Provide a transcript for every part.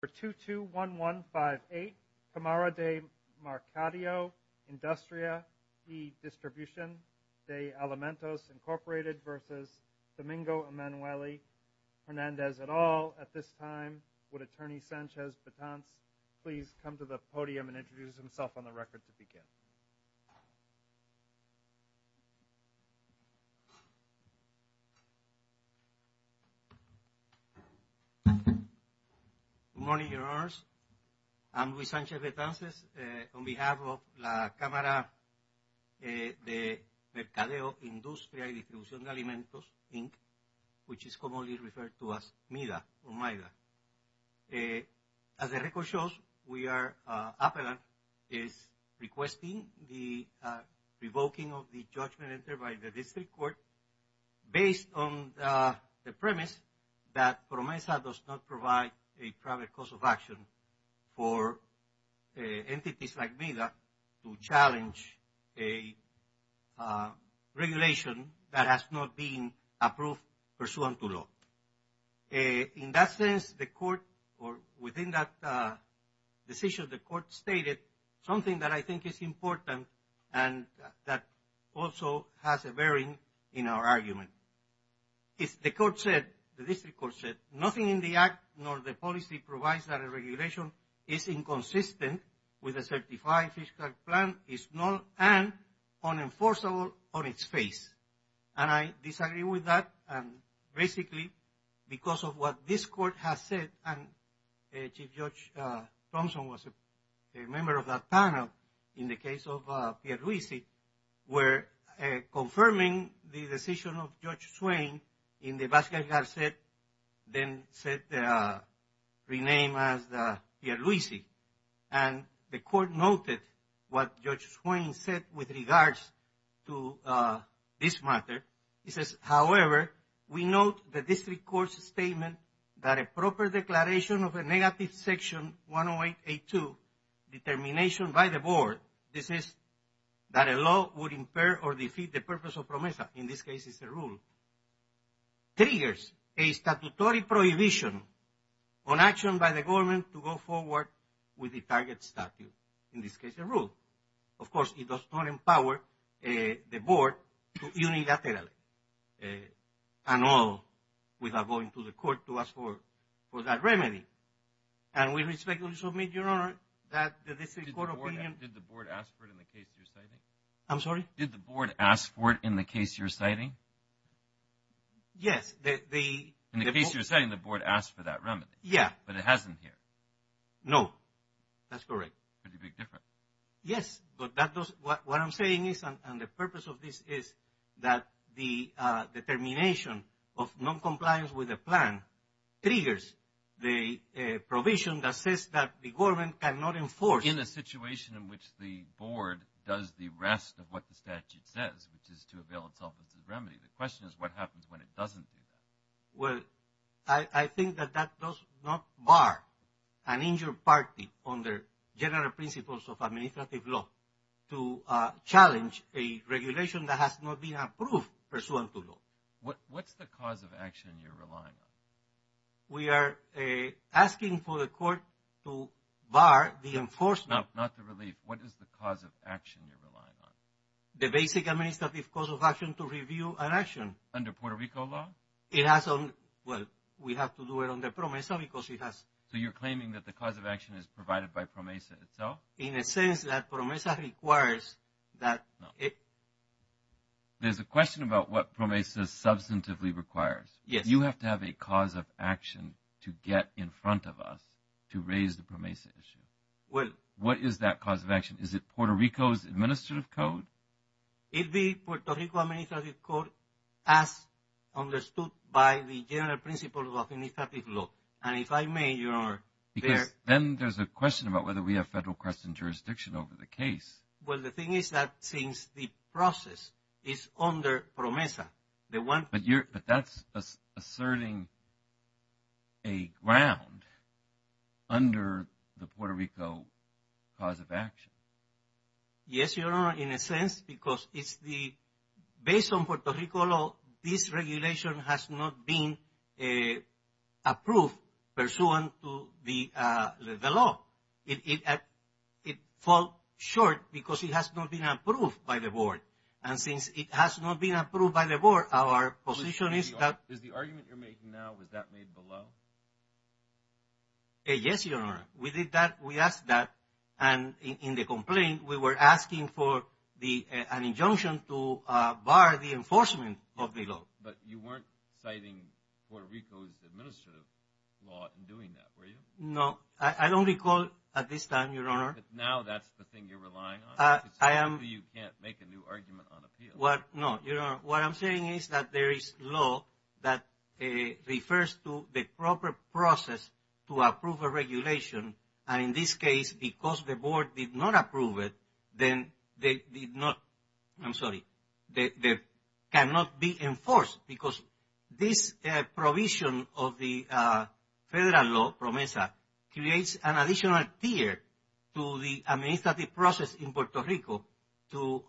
for 221158 Camara de Mercadeo Industria e Distribución de Alimentos Incorporated versus Domingo Emanuelli Hernandez et al. At this time would attorney Sanchez-Betanz please come to the podium and introduce himself on the record to begin. Good morning, your honors. I'm Luis Sanchez-Betanz on behalf of la Camara de Mercadeo Industria y Distribución de Alimentos Inc. which is commonly referred to as MIDA or MIDA. As the record shows we are appellant is requesting the revoking of the judgment entered by the district court based on the premise that PROMESA does not provide a private cause of action for entities like MIDA to challenge a regulation that has not been approved pursuant to law. In that sense the court or within that decision the court stated something that I think is important and that also has a bearing in our argument. If the court said the district court said nothing in the act nor the policy provides that a regulation is inconsistent with a certified plan is null and unenforceable on its face. And I disagree with that and basically because of what this court has said and Chief Judge Thompson was a member of that panel in the case of Pierluisi where confirming the decision of Judge Swain in the Vasquez-Garcet then said renamed as Pierluisi and the court noted what Judge Swain said with regards to this matter. He says however we note the district court's statement that a proper declaration of a negative section 108A2 determination by the board this is that a law would impair or defeat the rule triggers a statutory prohibition on action by the government to go forward with the target statute in this case a rule. Of course it does not empower the board to unilaterally and all without going to the court to ask for that remedy and we respectfully submit your honor that the district court opinion. Did the board ask for it in the case you're citing? I'm sorry? Did the board ask for it in the case you're citing? Yes. In the case you're saying the board asked for that remedy? Yeah. But it hasn't here? No that's correct. Pretty big difference. Yes but that does what I'm saying is and the purpose of this is that the determination of non-compliance with the plan triggers the provision that says that the government cannot enforce. In a situation in which the board does the rest of what the statute says which is to avail itself of the remedy. The question is what happens when it doesn't do that? Well I think that that does not bar an injured party on their general principles of administrative law to challenge a regulation that has not been approved pursuant to law. What's the cause of action you're relying on? We are asking for the court to bar the enforcement. No not the relief. What is the cause of action you're relying on? The basic administrative cause of action to review an action. Under Puerto Rico law? It has on well we have to do it on the PROMESA because it has. So you're claiming that the cause of action is provided by PROMESA itself? In a sense that PROMESA requires that it. There's a question about what PROMESA substantively requires. Yes. You have to have a cause of action to get in front of us to raise the PROMESA issue. Well. What is that cause of action? Is it Puerto Rico's administrative code? It'd be Puerto Rico administrative code as understood by the general principle of administrative law. And if I may your honor. Because then there's a question about whether we have federal question jurisdiction over the case. Well the thing is that since the process is under PROMESA. The one. But you're but that's asserting a ground under the Puerto Rico cause of action. Yes your honor. In a sense because it's the based on Puerto Rico law this regulation has not been approved pursuant to the law. It at it fall short because it has not been approved by the board. And since it has not been approved by the board our position is that. Is the argument you're making now was that made below? Yes your honor. We did that. We asked that. And in the complaint we were asking for the an injunction to bar the enforcement of the law. But you weren't citing Puerto Rico's administrative law in doing that were you? No. I don't recall at this time your honor. Now that's the thing you're relying on. I am. You can't make a new argument on appeal. What no your honor. What I'm saying is that there is law that refers to the proper process to approve a regulation. And in this case because the board did not approve it. Then they did not. I'm sorry. They cannot be enforced because this provision of the federal law PROMESA creates an additional tier to the administrative process in Puerto Rico to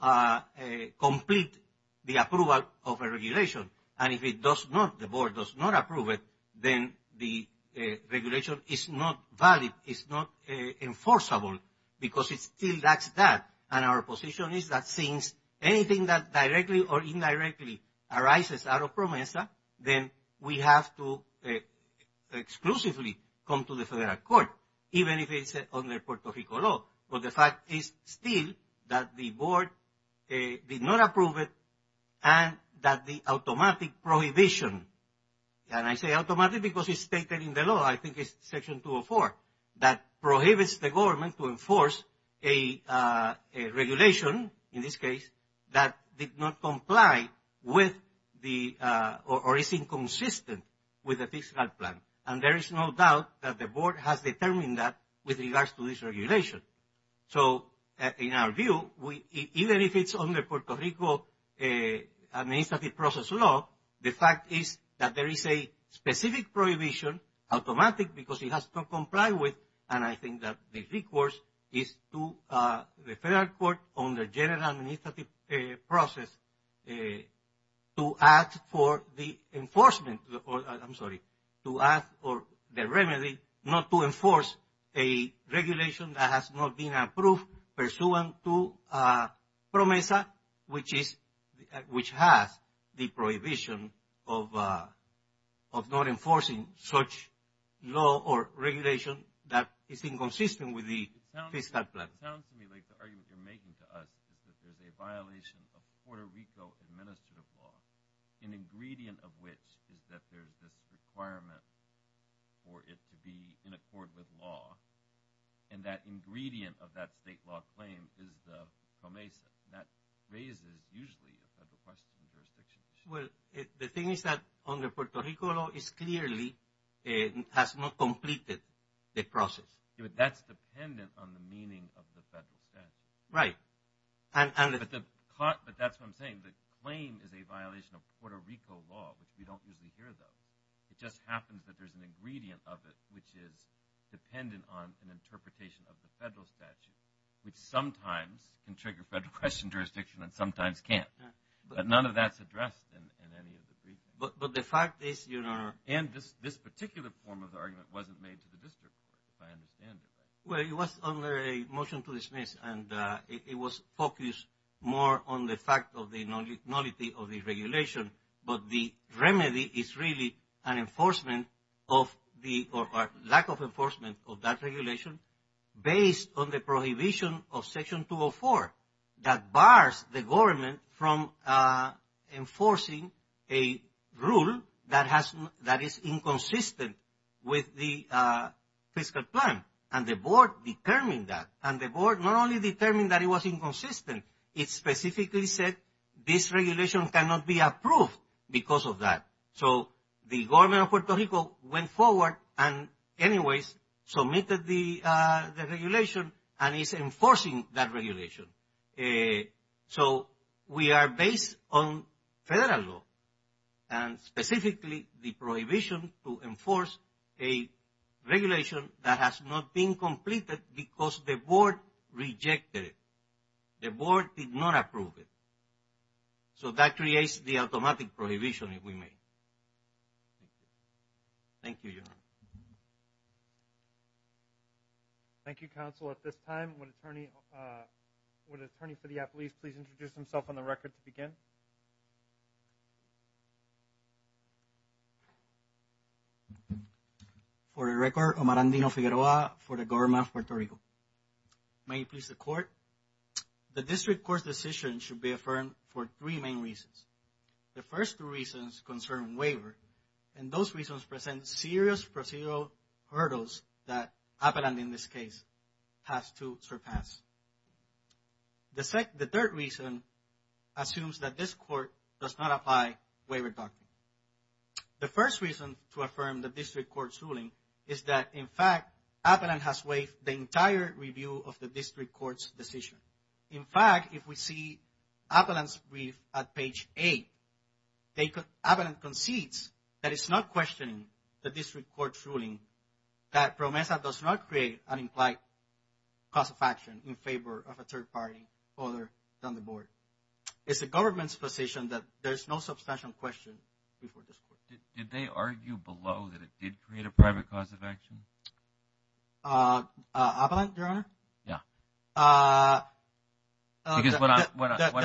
complete the approval of a regulation. And if it does not, the board does not approve it, then the regulation is not valid. It's not enforceable. Because it still lacks that. And our position is that since anything that directly or indirectly arises out of PROMESA then we have to exclusively come to the federal court. Even if it's under Puerto Rico law. But the fact is still that the board did not approve it and that the automatic prohibition, and I say automatic because it's stated in the law, I think it's section 204, that prohibits the government to enforce a regulation in this case that did not comply with the or is inconsistent with the fiscal plan. And there is no doubt that the board has determined that with regards to this regulation. So, in our view, even if it's under Puerto Rico administrative process law, the fact is that there is a specific prohibition, automatic because it has to comply with, and I think that the request is to the federal court on the general administrative process to ask for the enforcement, I'm sorry, to ask for the remedy not to enforce a regulation that has not been approved pursuant to PROMESA which has the prohibition of not enforcing such law or regulation that is inconsistent with the fiscal plan. It sounds to me like the argument you're making to us is that there's a violation of Puerto Rico administrative law, an ingredient of which is that there's this requirement for it to be in accord with law, and that ingredient of that state law claim is the PROMESA. That raises usually a federal question in jurisdictions. Well, the thing is that under Puerto Rico law is clearly has not completed the process. That's dependent on the meaning of the federal statute. Right. But that's what I'm saying. The claim is a violation of Puerto Rico law, which we don't usually hear, though. It just happens that there's an ingredient of it which is dependent on an interpretation of the federal statute, which sometimes can trigger federal question jurisdiction and sometimes can't, but none of that's addressed in any of the briefings. But the fact is, you know... And this particular form of the argument wasn't made to the district if I understand it right. Well, it was under a motion to dismiss, and it was focused more on the fact of the nullity of the regulation, but the remedy is really an enforcement of the lack of enforcement of that regulation based on the prohibition of section 204 that bars the government from enforcing a rule that is inconsistent with the fiscal plan. And the board determined that. And the board not only determined that it was inconsistent, it specifically said this regulation cannot be approved because of that. So the government of Puerto Rico went forward and submitted the regulation and is enforcing that regulation. So we are based on federal law, and specifically the prohibition to enforce a regulation that has not been completed because the board rejected it. The board did not approve it. So that creates the automatic prohibition. If we may. Thank you. Thank you, Your Honor. Thank you, counsel. At this time, would the attorney for the appellees please introduce himself on the record to begin? For the record, Omar Andino-Figueroa for the government of Puerto Rico. May it please the court. The district court's decision should be affirmed for three main reasons. The first two reasons concern waiver, and those reasons present serious procedural hurdles that Appellant in this case has to surpass. The third reason assumes that this court does not apply waiver doctrine. The first reason to affirm the district court's ruling is that, in fact, Appellant has waived the entire review of the district court's decision. In fact, if we see Appellant's brief at page eight, Appellant concedes that it's not questioning the district court's ruling that PROMESA does not create an implied cause of action in favor of a third party other than the board. It's the government's position that there's no substantial question before this court. Did they argue below that it did create a private cause of action? Appellant, Your Honor? Yeah. The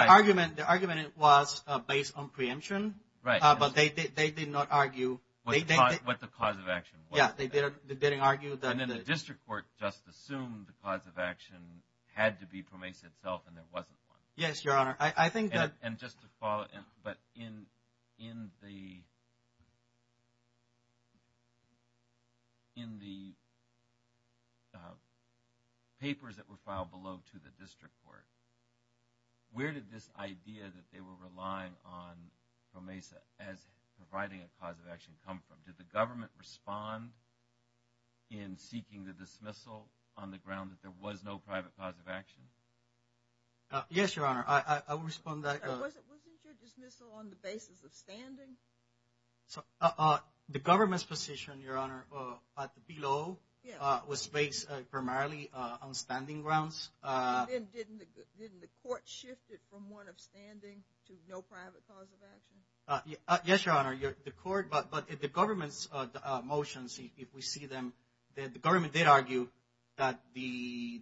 argument was based on preemption. Right. But they did not argue. What the cause of action was. Yeah, they didn't argue that. And then the district court just assumed the cause of action had to be PROMESA itself, and there wasn't one. Yes, Your Honor. I think that. And just to follow, but in the papers that were filed below to the district court, where did this idea that they were relying on PROMESA as providing a cause of action come from? Did the government respond in seeking the dismissal on the ground that there was no dismissal on the basis of standing? The government's position, Your Honor, at the below was based primarily on standing grounds. And then didn't the court shift it from one of standing to no private cause of action? Yes, Your Honor, the court, but the government's motions, if we see them, the government did argue that the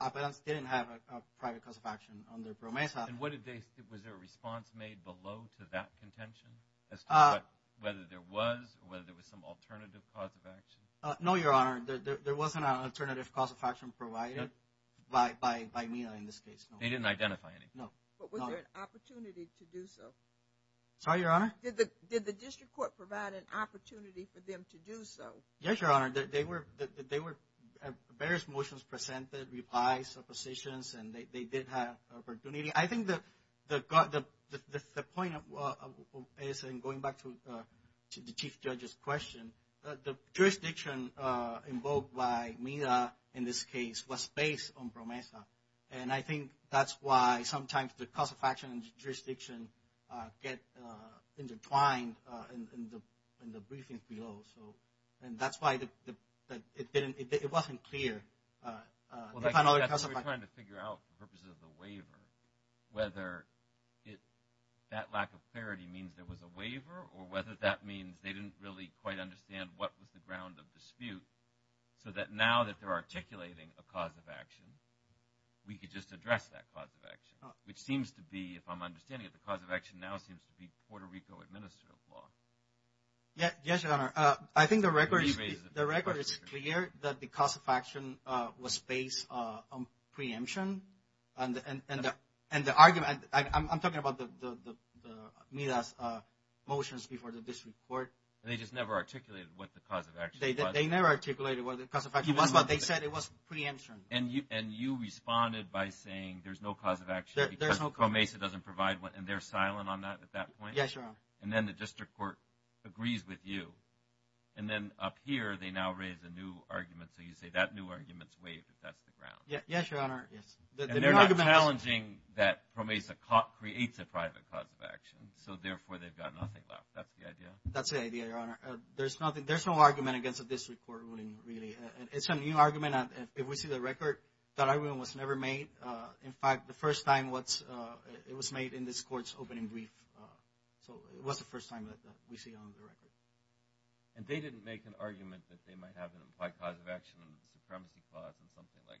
appellants didn't have a private cause of action under PROMESA. And what did they, was there a response made below to that contention as to whether there was or whether there was some alternative cause of action? No, Your Honor, there wasn't an alternative cause of action provided by MENA in this case. They didn't identify any? No. But was there an opportunity to do so? Sorry, Your Honor? Did the district court provide an opportunity for them to do so? Yes, Your Honor, they were, various motions presented, replies, suppositions, and they did have opportunity. I think the point is, and going back to the Chief Judge's question, the jurisdiction invoked by MENA in this case was based on PROMESA. And I think that's why sometimes the cause of action and jurisdiction get intertwined in the briefings below. So, and that's why it didn't, it wasn't clear. Well, that's what we're trying to figure out for purposes of the waiver, whether it, that lack of clarity means there was a waiver or whether that means they didn't really quite understand what was the ground of dispute, so that now that they're articulating a cause of action, we could just address that cause of action, which seems to be, if I'm understanding it, the cause of action now seems to be Puerto Rico administrative law. Yeah, yes, Your Honor. I think the record is clear that the cause of action was based on preemption and the argument, I'm talking about the MENA's motions before the district court. They just never articulated what the cause of action was. They never articulated what the cause of action was, but they said it was preemption. And you responded by saying there's no cause of action because PROMESA doesn't provide one, and they're silent on that at that point? Yes, Your Honor. And then the district court agrees with you, and then up here, they now raise a new argument, so you say that new argument's waived if that's the ground. Yes, Your Honor, yes. And they're not challenging that PROMESA creates a private cause of action, so therefore, they've got nothing left. That's the idea? That's the idea, Your Honor. There's no argument against a district court ruling, really. It's a new argument, and if we see the record, that argument was never made. In fact, the first time it was made in this court's opening brief, so it was the first time that we see on the record. And they didn't make an argument that they might have an implied cause of action, and a supremacy clause, and something like,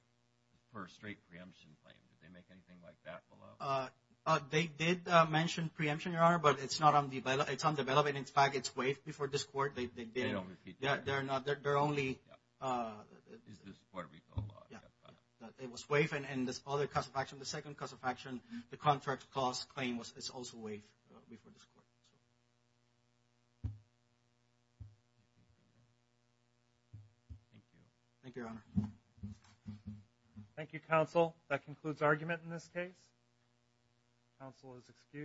for a straight preemption claim. Did they make anything like that below? They did mention preemption, Your Honor, but it's undeveloped, and in fact, it's waived before this court. They didn't. They don't repeat that? They're not. They're only... Is this Puerto Rico law? Yeah, it was waived, and this other cause of action, the second cause of action, the contract clause claim was also waived before this court. Thank you. Thank you, Your Honor. Thank you, counsel. That concludes argument in this case. Counsel is excused.